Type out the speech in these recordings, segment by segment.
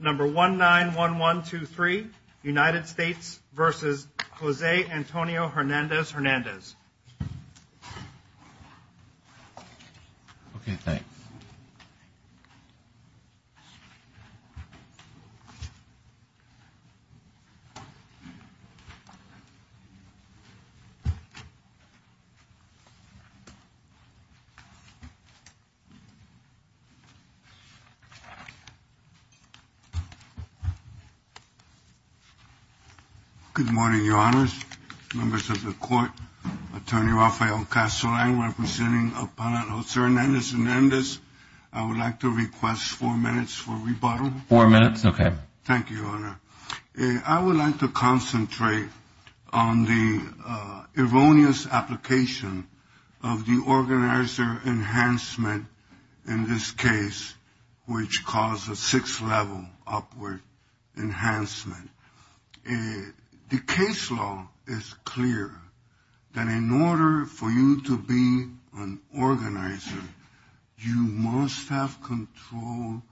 Number 191123, United States v. Jose Antonio Hernandez-Hernandez. Good morning, Your Honors. Members of the Court, Attorney Rafael Castellan, representing Appellant Jose Hernandez-Hernandez, I would like to request four minutes for rebuttal. Four minutes, okay. Thank you, Your Honor. I would like to concentrate on the erroneous application of the organizer enhancement in this case, which caused a six-level upward enhancement. The case law is clear that in order for you to be an organizer, you must have control,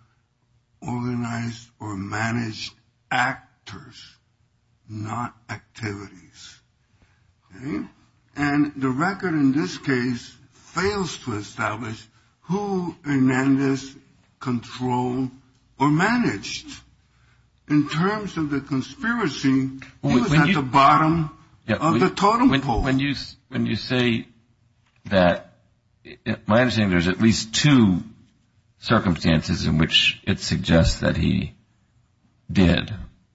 organized or managed actors, not activities. And the record in this case fails to establish who Hernandez controlled or managed. In terms of the conspiracy, he was at the bottom of the totem pole. When you say that, my understanding is there's at least two circumstances in which it suggests that he did.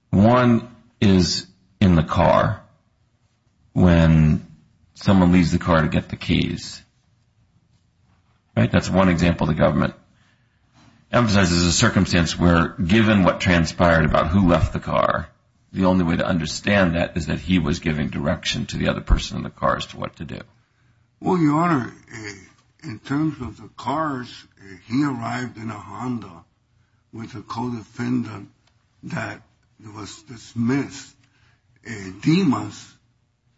One is in the car when someone leaves the car to get the keys, right? That's one example the government emphasizes a circumstance where given what transpired about who left the car, the only way to understand that is that he was giving direction to the other person in the car as to what to do. Well, Your Honor, in terms of the cars, he arrived in a Honda with a co-defendant that was dismissed. Dimas,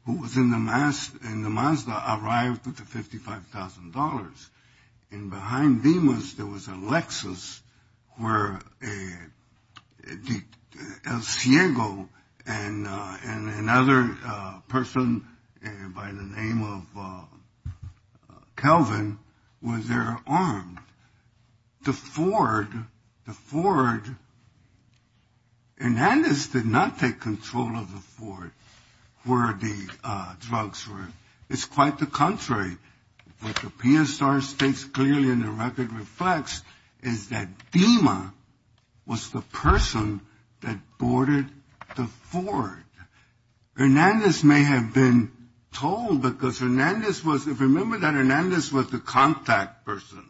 who was in the Mazda, arrived with the $55,000. And behind Dimas there was a Lexus where El Ciego and another person by the name of Kelvin were there armed. The Ford, the Ford, Hernandez did not take control of the Ford where the drugs were. It's quite the contrary. What the PSR states clearly in the record reflects is that Dimas was the person that boarded the Ford. Hernandez may have been told because Hernandez was remember that Hernandez was the contact person.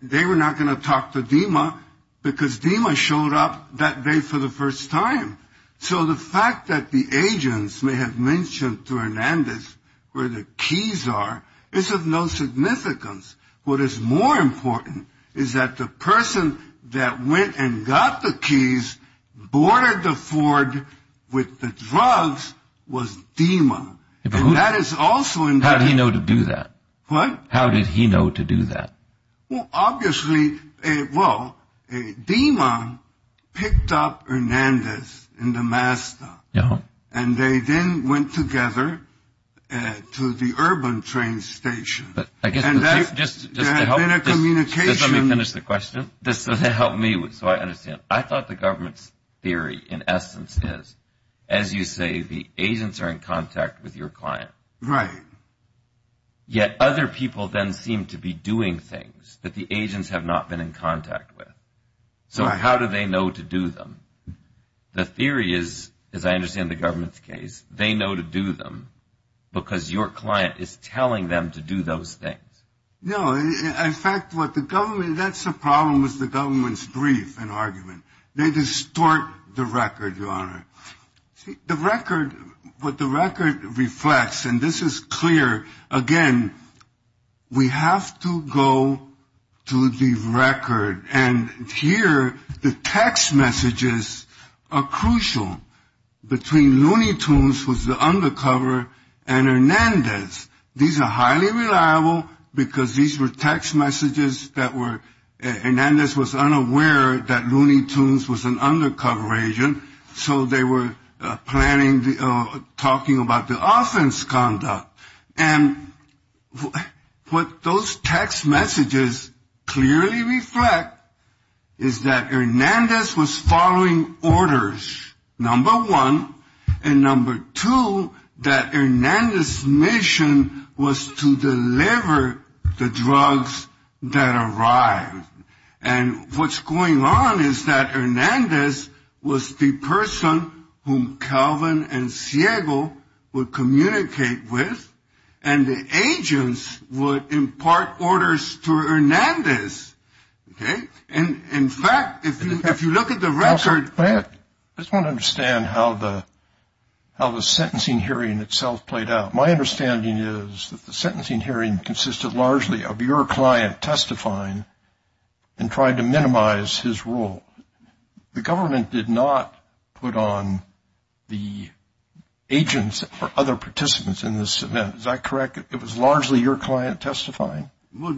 They were not going to talk to Dimas because Dimas showed up that day for the first time. So the fact that the agents may have mentioned to Hernandez where the keys are is of no significance. What is more important is that the person that went and got the keys, boarded the Ford with the drugs, was Dimas. And that is also in fact... How did he know to do that? What? How did he know to do that? Well, obviously, well, Dimas picked up Hernandez in the Mazda. Yeah. And they then went together to the urban train station. And that's... Just to help... There had been a communication... Just let me finish the question. Just to help me so I understand. I thought the government's theory in essence is, as you say, the agents are in contact with your client. Right. Yet other people then seem to be doing things that the agents have not been in contact with. So how do they know to do them? The theory is, as I understand the government's case, they know to do them because your client is telling them to do those things. No. In fact, what the government... That's the problem with the government's brief and argument. They distort the record, Your Honor. The record... What the record reflects, and this is clear, again, we have to go to the record. And here the text messages are crucial between Looney Tunes, who's the undercover, and Hernandez. These are highly reliable because these were text messages that were... They were planning, talking about the offense conduct. And what those text messages clearly reflect is that Hernandez was following orders, number one. And number two, that Hernandez's mission was to deliver the drugs that arrived. And what's going on is that Hernandez was the person whom Calvin and Ciego would communicate with, and the agents would impart orders to Hernandez. Okay? And, in fact, if you look at the record... I just want to understand how the sentencing hearing itself played out. My understanding is that the sentencing hearing consisted largely of your client testifying and tried to minimize his role. The government did not put on the agents or other participants in this event. Is that correct? It was largely your client testifying? Well,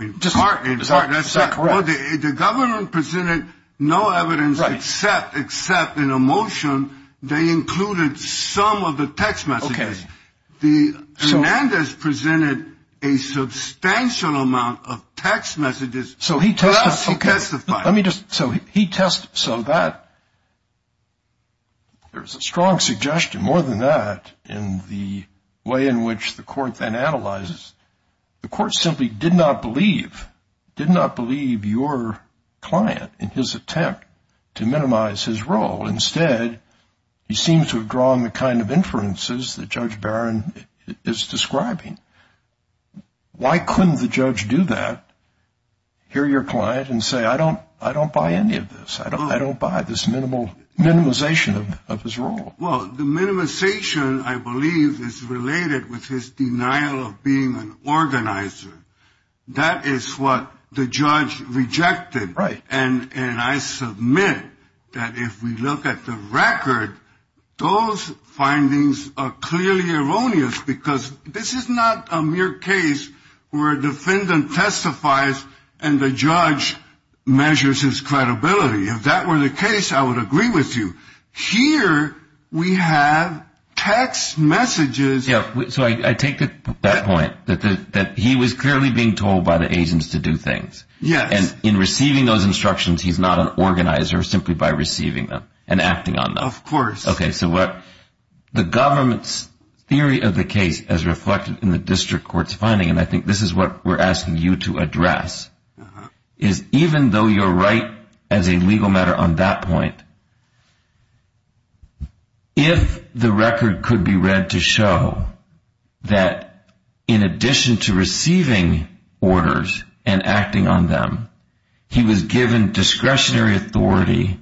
it's partly. Is that correct? The government presented no evidence except in a motion. They included some of the text messages. Okay. Hernandez presented a substantial amount of text messages. So he testified? Yes, he testified. Let me just... So he test... So that... There's a strong suggestion more than that in the way in which the court then analyzes. The court simply did not believe, did not believe your client in his attempt to minimize his role. Instead, he seems to have drawn the kind of inferences that Judge Barron is describing. Why couldn't the judge do that? Hear your client and say, I don't buy any of this. I don't buy this minimization of his role. Well, the minimization, I believe, is related with his denial of being an organizer. That is what the judge rejected. Right. And I submit that if we look at the record, those findings are clearly erroneous, because this is not a mere case where a defendant testifies and the judge measures his credibility. If that were the case, I would agree with you. Here we have text messages. So I take that point, that he was clearly being told by the agents to do things. Yes. And in receiving those instructions, he's not an organizer simply by receiving them and acting on them. Of course. Okay. So what the government's theory of the case as reflected in the district court's finding, and I think this is what we're asking you to address, is even though you're right as a legal matter on that point, if the record could be read to show that in addition to receiving orders and acting on them, he was given discretionary authority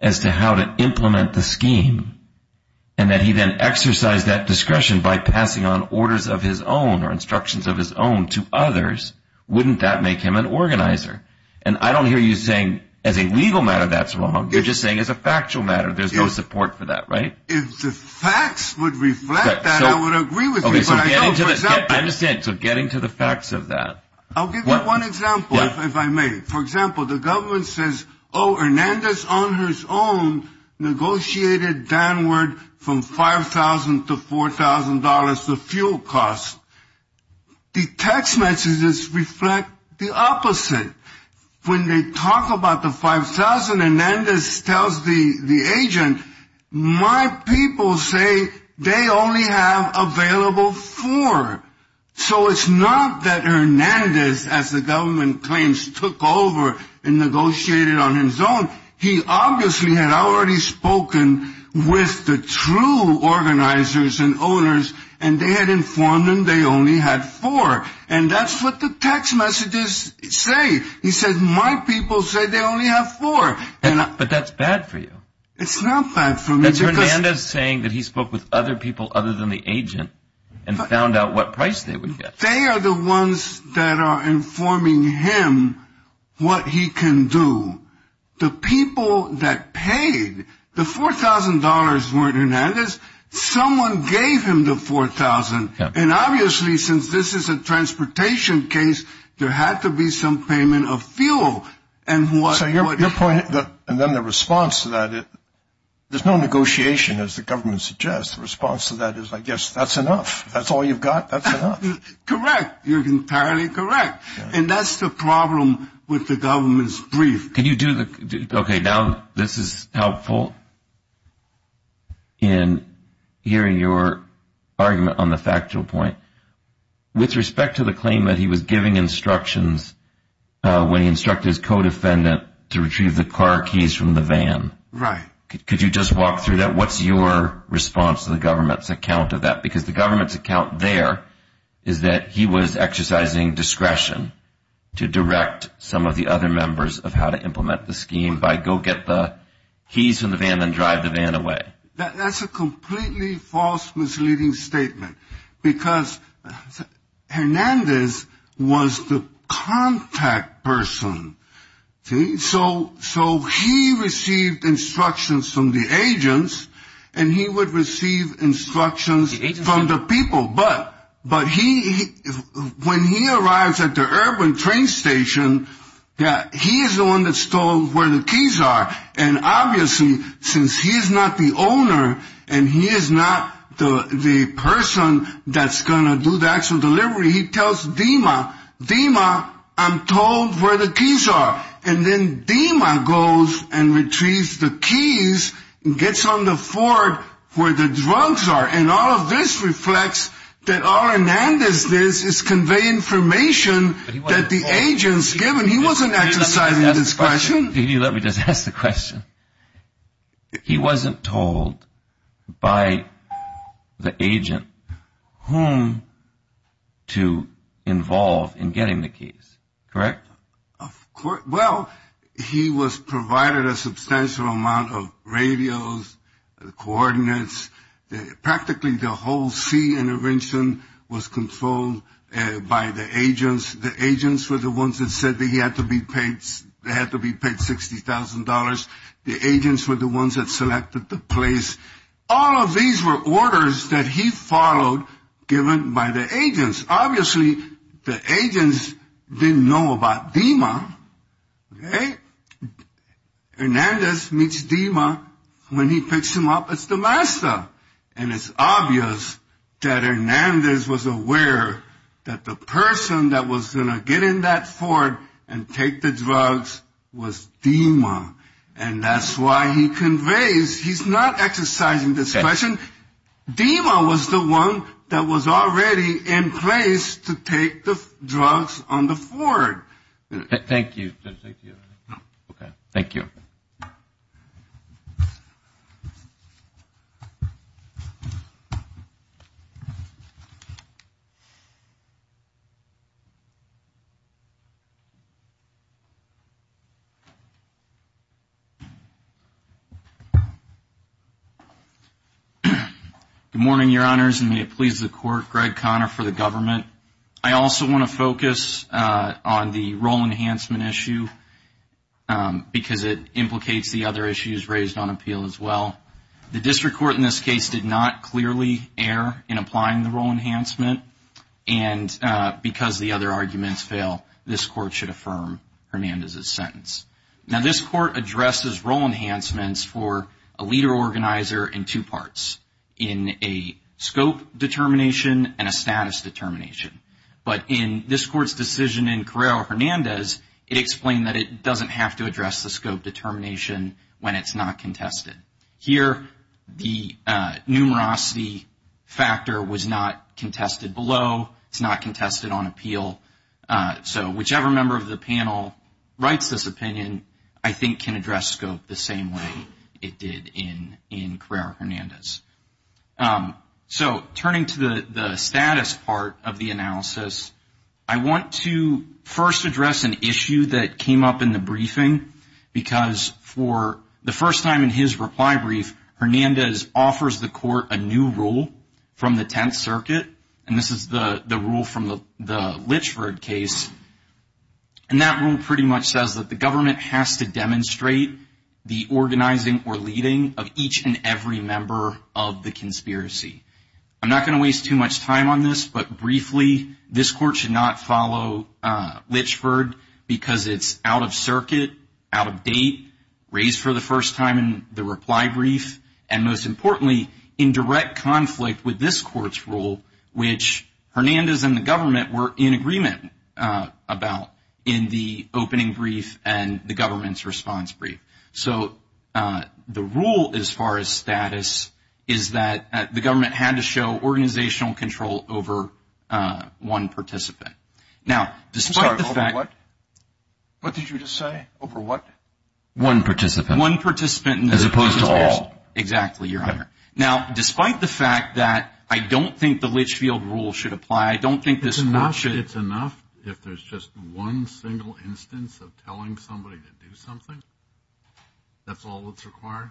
as to how to implement the scheme, and that he then exercised that discretion by passing on orders of his own or instructions of his own to others, wouldn't that make him an organizer? And I don't hear you saying as a legal matter that's wrong. You're just saying as a factual matter there's no support for that, right? If the facts would reflect that, I would agree with you. Okay. So getting to the facts of that. I'll give you one example if I may. For example, the government says, oh, Hernandez on his own negotiated downward from $5,000 to $4,000 the fuel cost. The text messages reflect the opposite. When they talk about the $5,000, Hernandez tells the agent, my people say they only have available four. So it's not that Hernandez, as the government claims, took over and negotiated on his own. He obviously had already spoken with the true organizers and owners, and they had informed him they only had four. And that's what the text messages say. He said, my people say they only have four. But that's bad for you. It's not bad for me. That's Hernandez saying that he spoke with other people other than the agent and found out what price they would get. They are the ones that are informing him what he can do. The people that paid, the $4,000 weren't Hernandez. Someone gave him the $4,000. And obviously, since this is a transportation case, there had to be some payment of fuel. So your point, and then the response to that, there's no negotiation, as the government suggests. The response to that is, I guess, that's enough. That's all you've got. That's enough. Correct. You're entirely correct. And that's the problem with the government's brief. Okay, now this is helpful in hearing your argument on the factual point. With respect to the claim that he was giving instructions when he instructed his co-defendant to retrieve the car keys from the van. Right. Could you just walk through that? What's your response to the government's account of that? Because the government's account there is that he was exercising discretion to direct some of the other members of how to implement the scheme by go get the keys from the van and drive the van away. That's a completely false, misleading statement. Because Hernandez was the contact person. So he received instructions from the agents, and he would receive instructions. From the people. But when he arrives at the urban train station, he is the one that's told where the keys are. And obviously, since he is not the owner, and he is not the person that's going to do the actual delivery, he tells DEMA, DEMA, I'm told where the keys are. And then DEMA goes and retrieves the keys and gets on the Ford where the drugs are. And all of this reflects that all Hernandez does is convey information that the agents give him. He wasn't exercising discretion. Let me just ask the question. He wasn't told by the agent whom to involve in getting the keys. Correct? Well, he was provided a substantial amount of radios, coordinates. Practically the whole C intervention was controlled by the agents. The agents were the ones that said that he had to be paid $60,000. The agents were the ones that selected the place. All of these were orders that he followed given by the agents. Obviously, the agents didn't know about DEMA. Hernandez meets DEMA. When he picks him up, it's the master. And it's obvious that Hernandez was aware that the person that was going to get in that Ford and take the drugs was DEMA. And that's why he conveys he's not exercising discretion. DEMA was the one that was already in place to take the drugs on the Ford. Thank you. Okay. Thank you. Good morning, Your Honors, and may it please the Court. Greg Conner for the government. I also want to focus on the role enhancement issue because it implicates the other issues raised on appeal as well. The district court in this case did not clearly err in applying the role enhancement. And because the other arguments fail, this Court should affirm Hernandez's sentence. Now, this Court addresses role enhancements for a leader organizer in two parts, in a scope determination and a status determination. But in this Court's decision in Carrera-Hernandez, it explained that it doesn't have to address the scope determination when it's not contested. Here, the numerosity factor was not contested below. It's not contested on appeal. So whichever member of the panel writes this opinion, I think, can address scope the same way it did in Carrera-Hernandez. So turning to the status part of the analysis, I want to first address an issue that came up in the briefing because for the first time in his reply brief, Hernandez offers the Court a new rule from the Tenth Circuit. And this is the rule from the Litchford case. And that rule pretty much says that the government has to demonstrate the organizing or leading of each and every member of the conspiracy. I'm not going to waste too much time on this, but briefly, this Court should not follow Litchford because it's out of circuit, out of date, raised for the first time in the reply brief, and most importantly, in direct conflict with this Court's rule, which Hernandez and the government were in agreement about in the opening brief and the government's response brief. So the rule, as far as status, is that the government had to show organizational control over one participant. Now, despite the fact that... I'm sorry, over what? What did you just say? Over what? One participant. As opposed to all. Exactly, Your Honor. Now, despite the fact that I don't think the Litchfield rule should apply, I don't think this Court should... It's enough if there's just one single instance of telling somebody to do something? That's all that's required?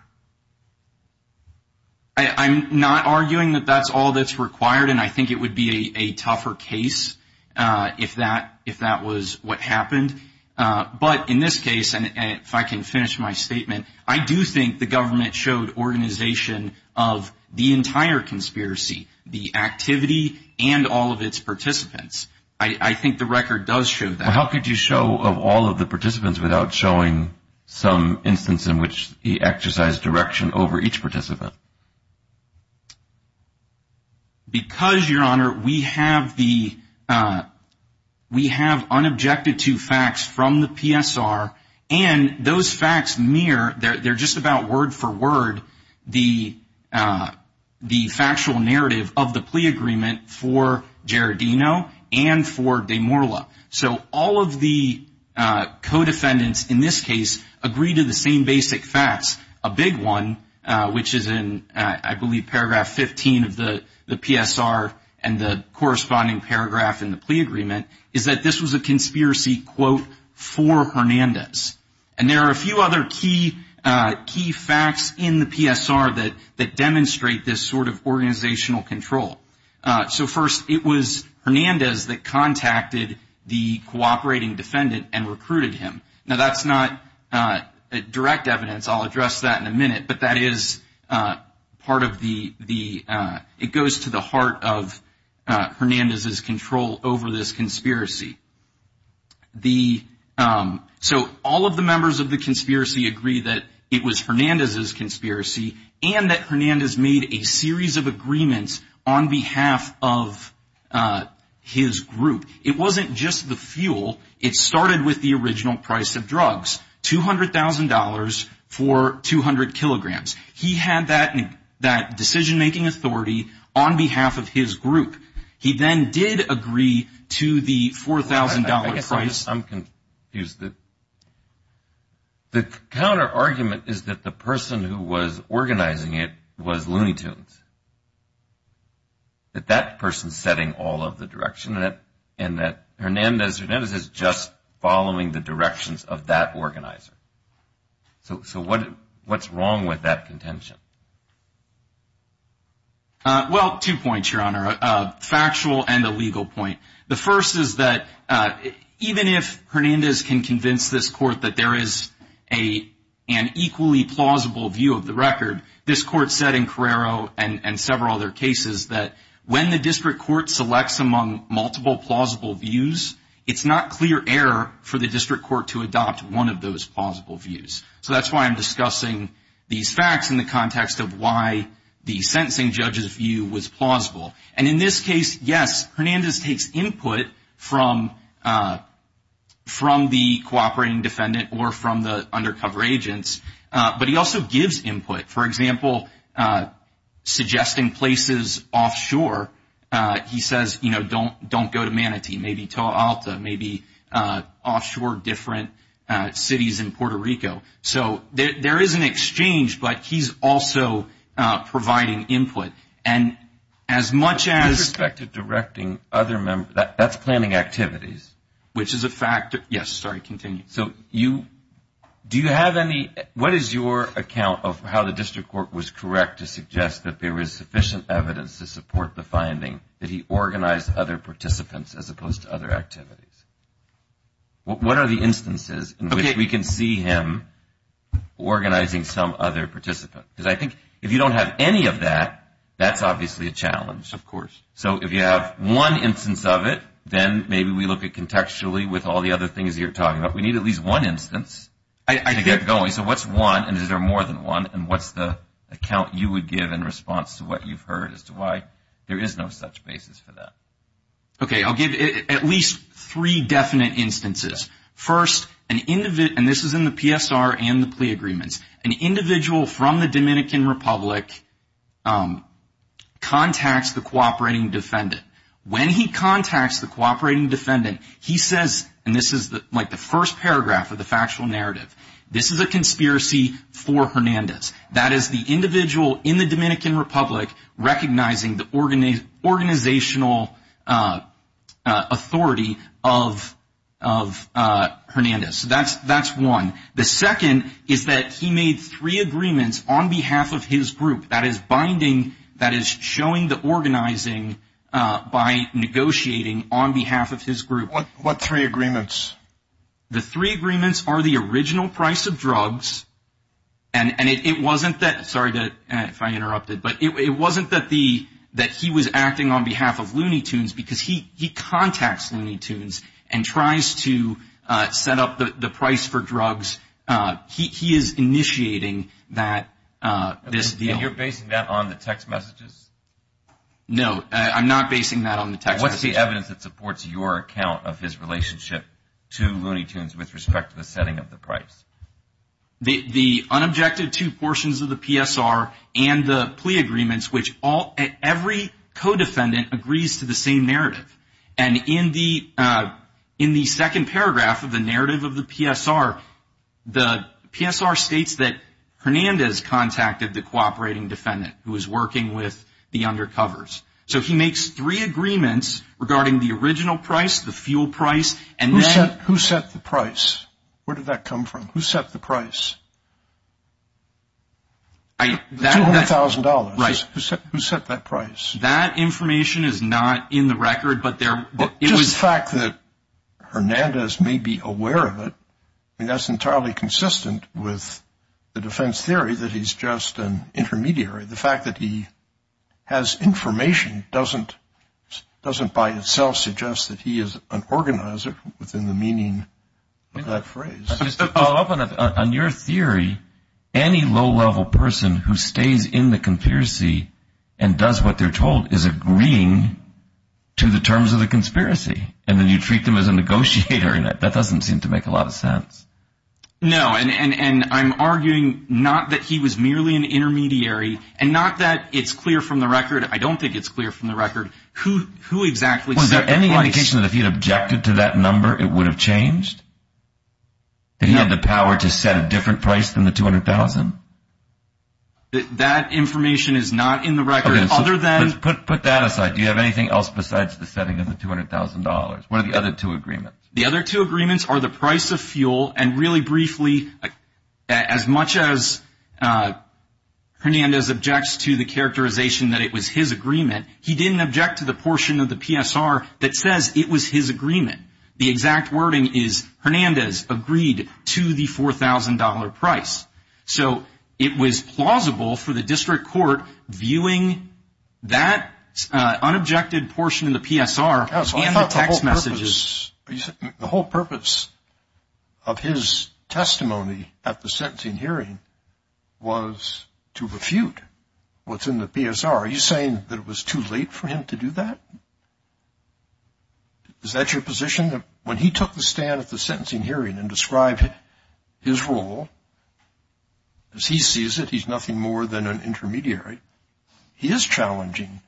I'm not arguing that that's all that's required, and I think it would be a tougher case if that was what happened. But in this case, and if I can finish my statement, I do think the government showed organization of the entire conspiracy, the activity, and all of its participants. I think the record does show that. Well, how could you show of all of the participants without showing some instance in which he exercised direction over each participant? Because, Your Honor, we have unobjected to facts from the PSR, and those facts mirror, they're just about word for word, the factual narrative of the plea agreement for Giardino and for De Morla. So all of the co-defendants in this case agree to the same basic facts. A big one, which is in, I believe, paragraph 15 of the PSR, and the corresponding paragraph in the plea agreement, is that this was a conspiracy, quote, for Hernandez. And there are a few other key facts in the PSR that demonstrate this sort of organizational control. So first, it was Hernandez that contacted the cooperating defendant and recruited him. Now, that's not direct evidence, I'll address that in a minute, but that is part of the, it goes to the heart of Hernandez's control over this conspiracy. So all of the members of the conspiracy agree that it was Hernandez's conspiracy and that Hernandez made a series of agreements on behalf of his group. It wasn't just the fuel. It started with the original price of drugs, $200,000 for 200 kilograms. He had that decision-making authority on behalf of his group. He then did agree to the $4,000 price. I'm confused. The counterargument is that the person who was organizing it was Looney Tunes, that that person is setting all of the direction, and that Hernandez is just following the directions of that organizer. So what's wrong with that contention? Well, two points, Your Honor, a factual and a legal point. The first is that even if Hernandez can convince this court that there is an equally plausible view of the record, this court said in Carrero and several other cases that when the district court selects among multiple plausible views, it's not clear error for the district court to adopt one of those plausible views. So that's why I'm discussing these facts in the context of why the sentencing judge's view was plausible. And in this case, yes, Hernandez takes input from the cooperating defendant or from the undercover agents, but he also gives input. For example, suggesting places offshore, he says, you know, don't go to Manatee, maybe Toa Alta, maybe offshore different cities in Puerto Rico. So there is an exchange, but he's also providing input. And as much as – With respect to directing other members, that's planning activities. Which is a fact – yes, sorry, continue. So you – do you have any – what is your account of how the district court was correct to suggest that there was sufficient evidence to support the finding that he organized other participants as opposed to other activities? What are the instances in which we can see him organizing some other participant? Because I think if you don't have any of that, that's obviously a challenge. Of course. So if you have one instance of it, then maybe we look at contextually with all the other things you're talking about. We need at least one instance to get going. So what's one, and is there more than one, and what's the account you would give in response to what you've heard as to why there is no such basis for that? Okay, I'll give at least three definite instances. First, an – and this is in the PSR and the plea agreements. An individual from the Dominican Republic contacts the cooperating defendant. When he contacts the cooperating defendant, he says – and this is like the first paragraph of the factual narrative – this is a conspiracy for Hernandez. That is the individual in the Dominican Republic recognizing the organizational authority of Hernandez. So that's one. The second is that he made three agreements on behalf of his group. That is binding – that is showing the organizing by negotiating on behalf of his group. What three agreements? The three agreements are the original price of drugs, and it wasn't that – sorry if I interrupted – but it wasn't that the – that he was acting on behalf of Looney Tunes, because he contacts Looney Tunes and tries to set up the price for drugs. He is initiating that – this deal. And you're basing that on the text messages? No, I'm not basing that on the text messages. What's the evidence that supports your account of his relationship to Looney Tunes with respect to the setting of the price? The unobjected two portions of the PSR and the plea agreements, which every co-defendant agrees to the same narrative. And in the second paragraph of the narrative of the PSR, the PSR states that Hernandez contacted the cooperating defendant who was working with the undercovers. So he makes three agreements regarding the original price, the fuel price, and then – Who set the price? Where did that come from? Who set the price? $200,000. Right. Who set that price? That information is not in the record, but there – Just the fact that Hernandez may be aware of it, I mean that's entirely consistent with the defense theory that he's just an intermediary. The fact that he has information doesn't by itself suggest that he is an organizer within the meaning of that phrase. Just to follow up on your theory, any low-level person who stays in the conspiracy and does what they're told is agreeing to the terms of the conspiracy, and then you treat them as a negotiator in it. That doesn't seem to make a lot of sense. No, and I'm arguing not that he was merely an intermediary and not that it's clear from the record. I don't think it's clear from the record who exactly set the price. Was there any indication that if he had objected to that number it would have changed? That he had the power to set a different price than the $200,000? That information is not in the record other than – Put that aside. Do you have anything else besides the setting of the $200,000? What are the other two agreements? The other two agreements are the price of fuel, and really briefly, as much as Hernandez objects to the characterization that it was his agreement, he didn't object to the portion of the PSR that says it was his agreement. The exact wording is, Hernandez agreed to the $4,000 price. So it was plausible for the district court viewing that unobjected portion of the PSR and the text messages. The whole purpose of his testimony at the sentencing hearing was to refute what's in the PSR. Are you saying that it was too late for him to do that? Is that your position? Are you saying that when he took the stand at the sentencing hearing and described his role, as he sees it he's nothing more than an intermediary, he is challenging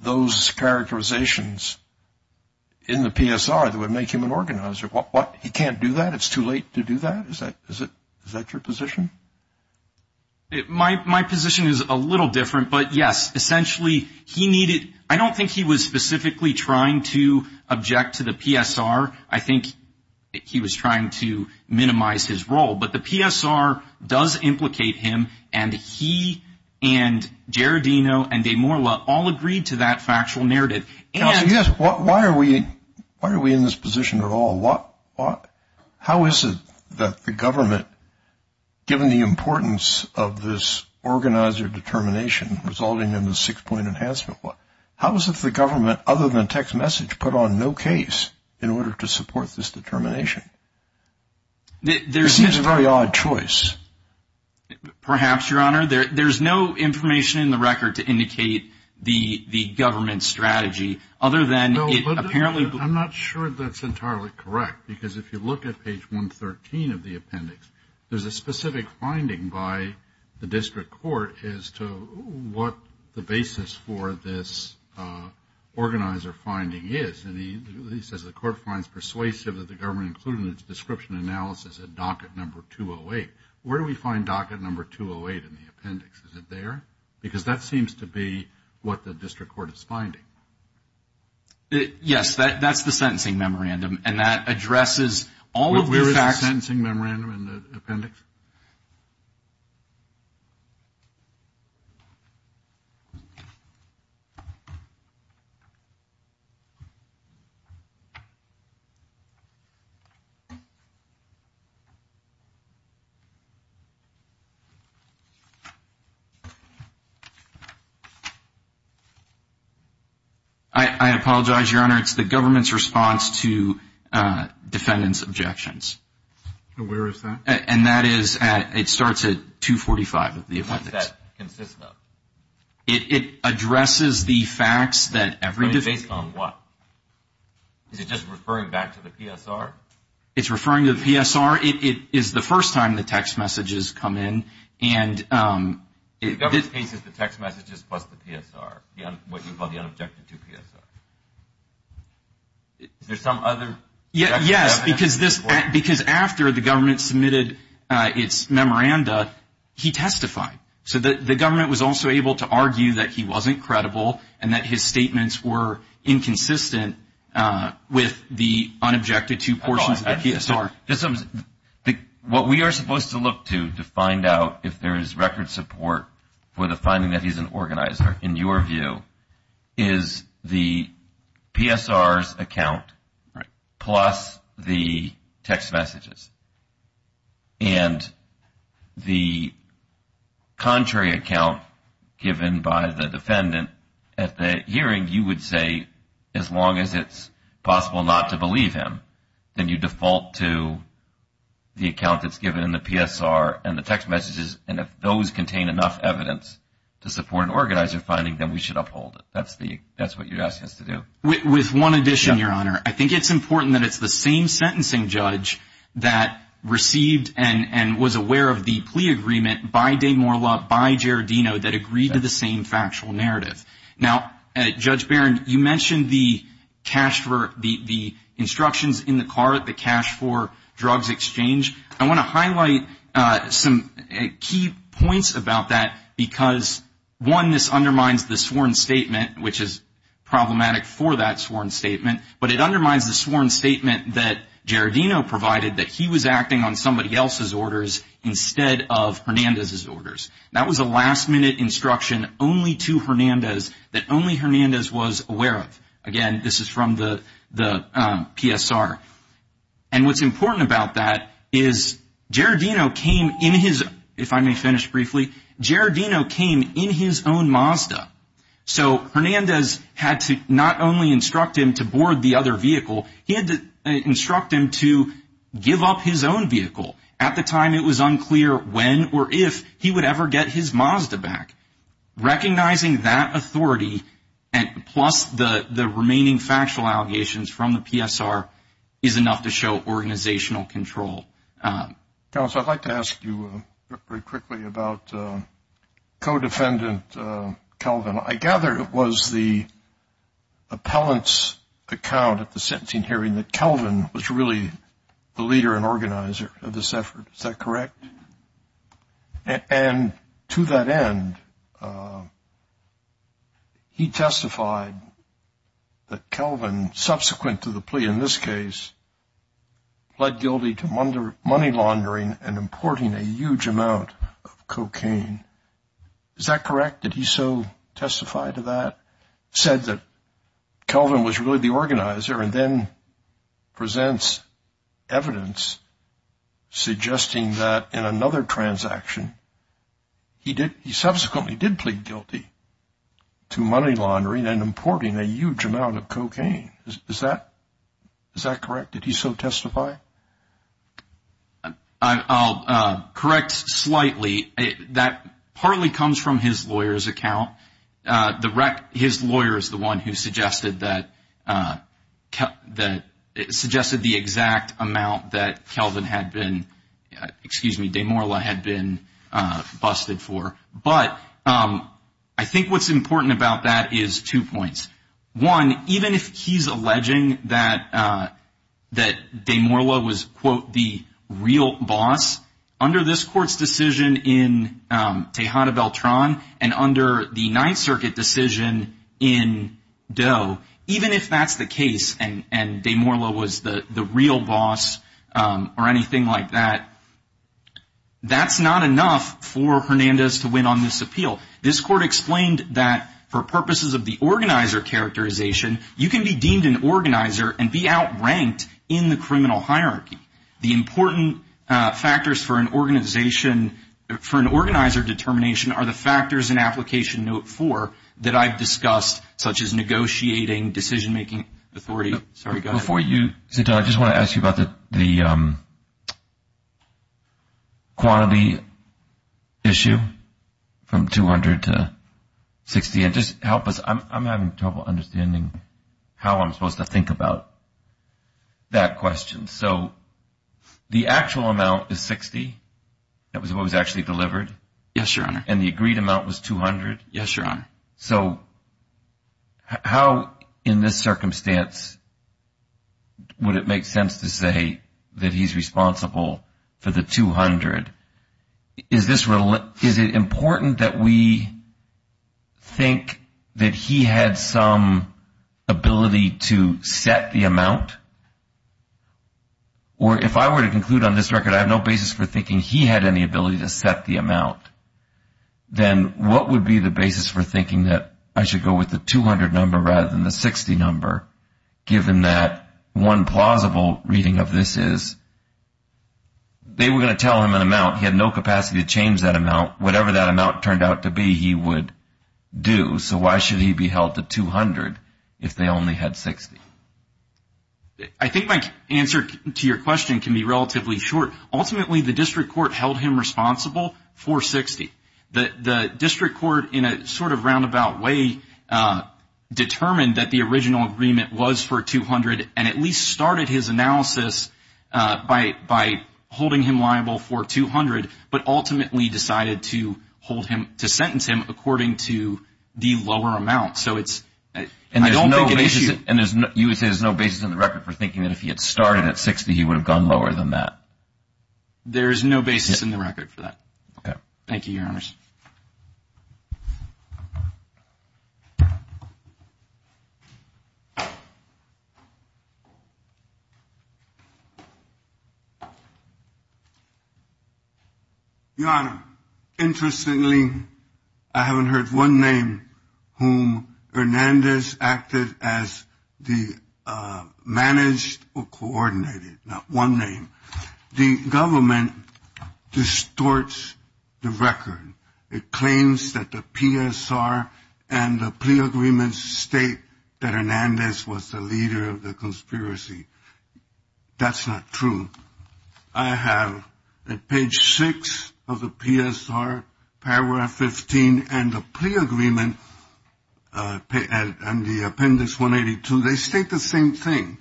those characterizations in the PSR that would make him an organizer. He can't do that? It's too late to do that? Is that your position? My position is a little different. But, yes, essentially he needed, I don't think he was specifically trying to object to the PSR. I think he was trying to minimize his role. But the PSR does implicate him, and he and Gerardino and De Morla all agreed to that factual narrative. Counsel, why are we in this position at all? How is it that the government, given the importance of this organizer determination resulting in the six-point enhancement, how is it that the government, other than text message, put on no case in order to support this determination? It seems a very odd choice. Perhaps, Your Honor. There's no information in the record to indicate the government's strategy other than it apparently I'm not sure that's entirely correct because if you look at page 113 of the appendix, there's a specific finding by the district court as to what the basis for this organizer finding is. And he says the court finds persuasive that the government included in its description analysis at docket number 208. Where do we find docket number 208 in the appendix? Is it there? Because that seems to be what the district court is finding. Yes, that's the sentencing memorandum, and that addresses all of the facts. That's the sentencing memorandum in the appendix. I apologize, Your Honor. It's the government's response to defendants' objections. And where is that? And that is, it starts at 245 of the appendix. Where does that consist of? It addresses the facts that every defendant But it's based on what? Is it just referring back to the PSR? It's referring to the PSR. It is the first time the text messages come in, and In the government's case, it's the text messages plus the PSR, what you call the unobjected to PSR. Is there some other? Yes, because after the government submitted its memoranda, he testified. So the government was also able to argue that he wasn't credible and that his statements were inconsistent with the unobjected to portions of the PSR. What we are supposed to look to to find out if there is record support for the finding that he's an organizer, in your view, is the PSR's account plus the text messages. And the contrary account given by the defendant at the hearing, you would say as long as it's possible not to believe him, then you default to the account that's given in the PSR and the text messages. And if those contain enough evidence to support an organizer finding, then we should uphold it. That's what you're asking us to do. With one addition, Your Honor, I think it's important that it's the same sentencing judge that received and was aware of the plea agreement by De Morla, by Gerardino, that agreed to the same factual narrative. Now, Judge Barron, you mentioned the instructions in the car, the cash for drugs exchange. I want to highlight some key points about that because, one, this undermines the sworn statement, which is problematic for that sworn statement, but it undermines the sworn statement that Gerardino provided that he was acting on somebody else's orders instead of Hernandez's orders. That was a last-minute instruction only to Hernandez that only Hernandez was aware of. Again, this is from the PSR. And what's important about that is Gerardino came in his, if I may finish briefly, Gerardino came in his own Mazda. So Hernandez had to not only instruct him to board the other vehicle, he had to instruct him to give up his own vehicle. At the time, it was unclear when or if he would ever get his Mazda back. Recognizing that authority, plus the remaining factual allegations from the PSR, is enough to show organizational control. Counsel, I'd like to ask you very quickly about co-defendant Kelvin. I gather it was the appellant's account at the sentencing hearing that Kelvin was really the leader and organizer of this effort. Is that correct? And to that end, he testified that Kelvin, subsequent to the plea in this case, pled guilty to money laundering and importing a huge amount of cocaine. Is that correct? Did he so testify to that, said that Kelvin was really the organizer and then presents evidence suggesting that in another transaction, he subsequently did plead guilty to money laundering and importing a huge amount of cocaine. Is that correct? Did he so testify? I'll correct slightly. That partly comes from his lawyer's account. His lawyer is the one who suggested the exact amount that Kelvin had been, excuse me, DeMorla had been busted for. But I think what's important about that is two points. One, even if he's alleging that DeMorla was, quote, the real boss, under this court's decision in Tejada Beltran and under the Ninth Circuit decision in Doe, even if that's the case and DeMorla was the real boss or anything like that, that's not enough for Hernandez to win on this appeal. This court explained that for purposes of the organizer characterization, you can be deemed an organizer and be outranked in the criminal hierarchy. The important factors for an organization, for an organizer determination, are the factors in Application Note 4 that I've discussed, such as negotiating, decision-making authority. Sorry, go ahead. Before you, Santana, I just want to ask you about the quantity issue from 200 to 60. Just help us. I'm having trouble understanding how I'm supposed to think about that question. So the actual amount is 60? That was what was actually delivered? Yes, Your Honor. And the agreed amount was 200? Yes, Your Honor. So how in this circumstance would it make sense to say that he's responsible for the 200? Is it important that we think that he had some ability to set the amount? Or if I were to conclude on this record I have no basis for thinking he had any ability to set the amount, then what would be the basis for thinking that I should go with the 200 number rather than the 60 number, given that one plausible reading of this is they were going to tell him an amount. He had no capacity to change that amount. Whatever that amount turned out to be, he would do. So why should he be held to 200 if they only had 60? I think my answer to your question can be relatively short. Ultimately, the district court held him responsible for 60. The district court, in a sort of roundabout way, determined that the original agreement was for 200 and at least started his analysis by holding him liable for 200, but ultimately decided to sentence him according to the lower amount. And you would say there's no basis in the record for thinking that if he had started at 60, he would have gone lower than that? There is no basis in the record for that. Okay. Thank you, Your Honors. Your Honor, interestingly, I haven't heard one name whom Hernandez acted as the managed or coordinated, not one name. The government distorts the record. It claims that the PSR and the plea agreements state that Hernandez was the leader of the conspiracy. That's not true. I have at page 6 of the PSR, paragraph 15, and the plea agreement and the appendix 182, they state the same thing.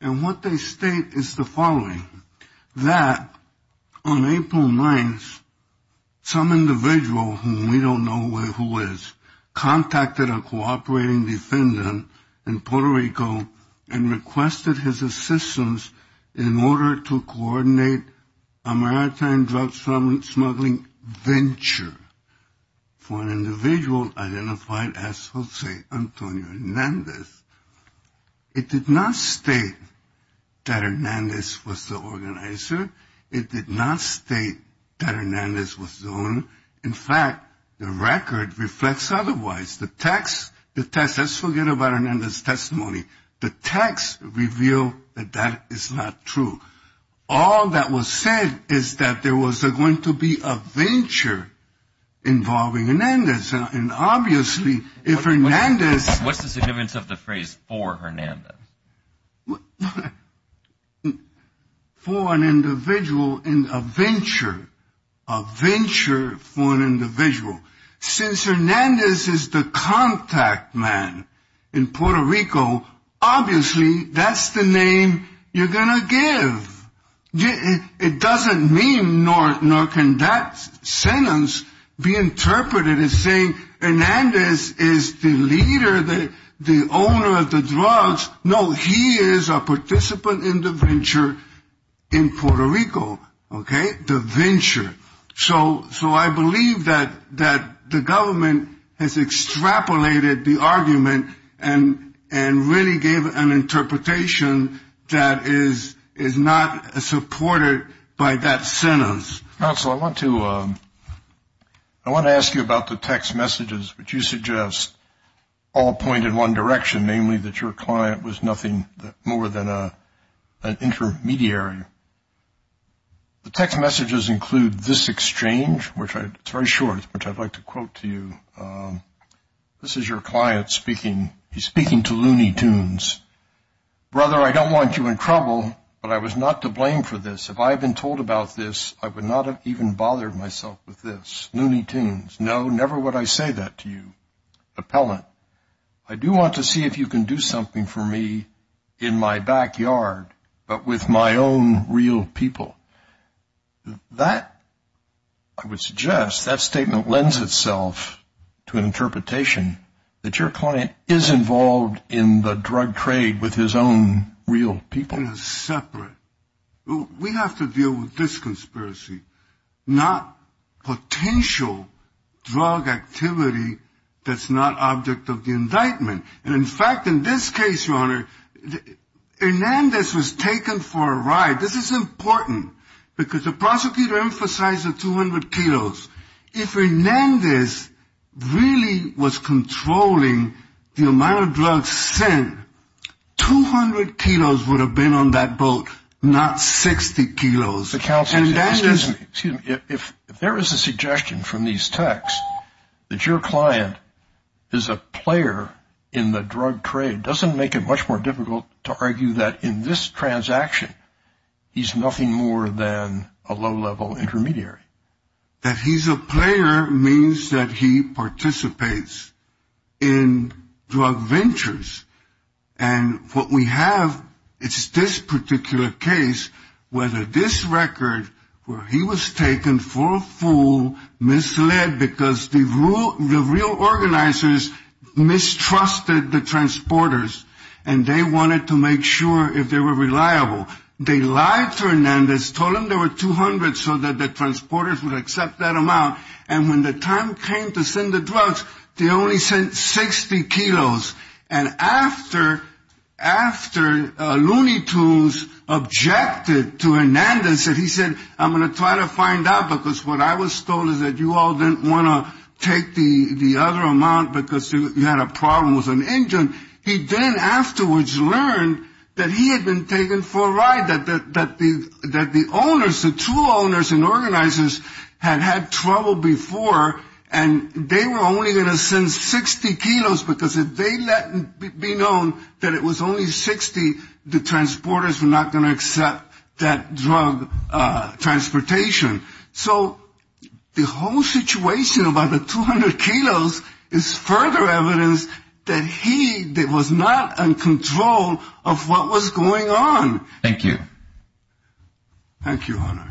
And what they state is the following. That on April 9th, some individual whom we don't know who is, contacted a cooperating defendant in Puerto Rico and requested his assistance in order to coordinate a maritime drug smuggling venture for an individual identified as Jose Antonio Hernandez. It did not state that Hernandez was the organizer. It did not state that Hernandez was the owner. In fact, the record reflects otherwise. The text, let's forget about Hernandez' testimony. The text revealed that that is not true. All that was said is that there was going to be a venture involving Hernandez. And obviously, if Hernandez. What's the significance of the phrase for Hernandez? For an individual in a venture. A venture for an individual. Since Hernandez is the contact man in Puerto Rico, obviously, that's the name you're going to give. It doesn't mean, nor can that sentence be interpreted as saying Hernandez is the leader, the owner of the drugs. No, he is a participant in the venture in Puerto Rico. Okay? The venture. So I believe that the government has extrapolated the argument and really gave an interpretation that is not supported by that sentence. Counsel, I want to ask you about the text messages which you suggest all point in one direction, namely that your client was nothing more than an intermediary. The text messages include this exchange, which is very short, which I'd like to quote to you. This is your client speaking. He's speaking to Looney Tunes. Brother, I don't want you in trouble, but I was not to blame for this. If I had been told about this, I would not have even bothered myself with this. Looney Tunes, no, never would I say that to you. Appellant, I do want to see if you can do something for me in my backyard, but with my own real people. That, I would suggest, that statement lends itself to an interpretation that your client is involved in the drug trade with his own real people. It is separate. We have to deal with this conspiracy, not potential drug activity that's not object of the indictment. And, in fact, in this case, Your Honor, Hernandez was taken for a ride. This is important because the prosecutor emphasized the 200 kilos. If Hernandez really was controlling the amount of drugs sent, 200 kilos would have been on that boat, not 60 kilos. If there is a suggestion from these texts that your client is a player in the drug trade, it doesn't make it much more difficult to argue that in this transaction, he's nothing more than a low-level intermediary. That he's a player means that he participates in drug ventures. And what we have is this particular case, where this record where he was taken for a fool, misled because the real organizers mistrusted the transporters, and they wanted to make sure if they were reliable. They lied to Hernandez, told him there were 200 so that the transporters would accept that amount, and when the time came to send the drugs, they only sent 60 kilos. And after Looney Tunes objected to Hernandez and he said, I'm going to try to find out because what I was told is that you all didn't want to take the other amount because you had a problem with an engine, he then afterwards learned that he had been taken for a ride, that the owners, the two owners and organizers had had trouble before, and they were only going to send 60 kilos because if they let it be known that it was only 60, the transporters were not going to accept that drug transportation. So the whole situation about the 200 kilos is further evidence that he was not in control of what was going on. Thank you. Thank you, Honor.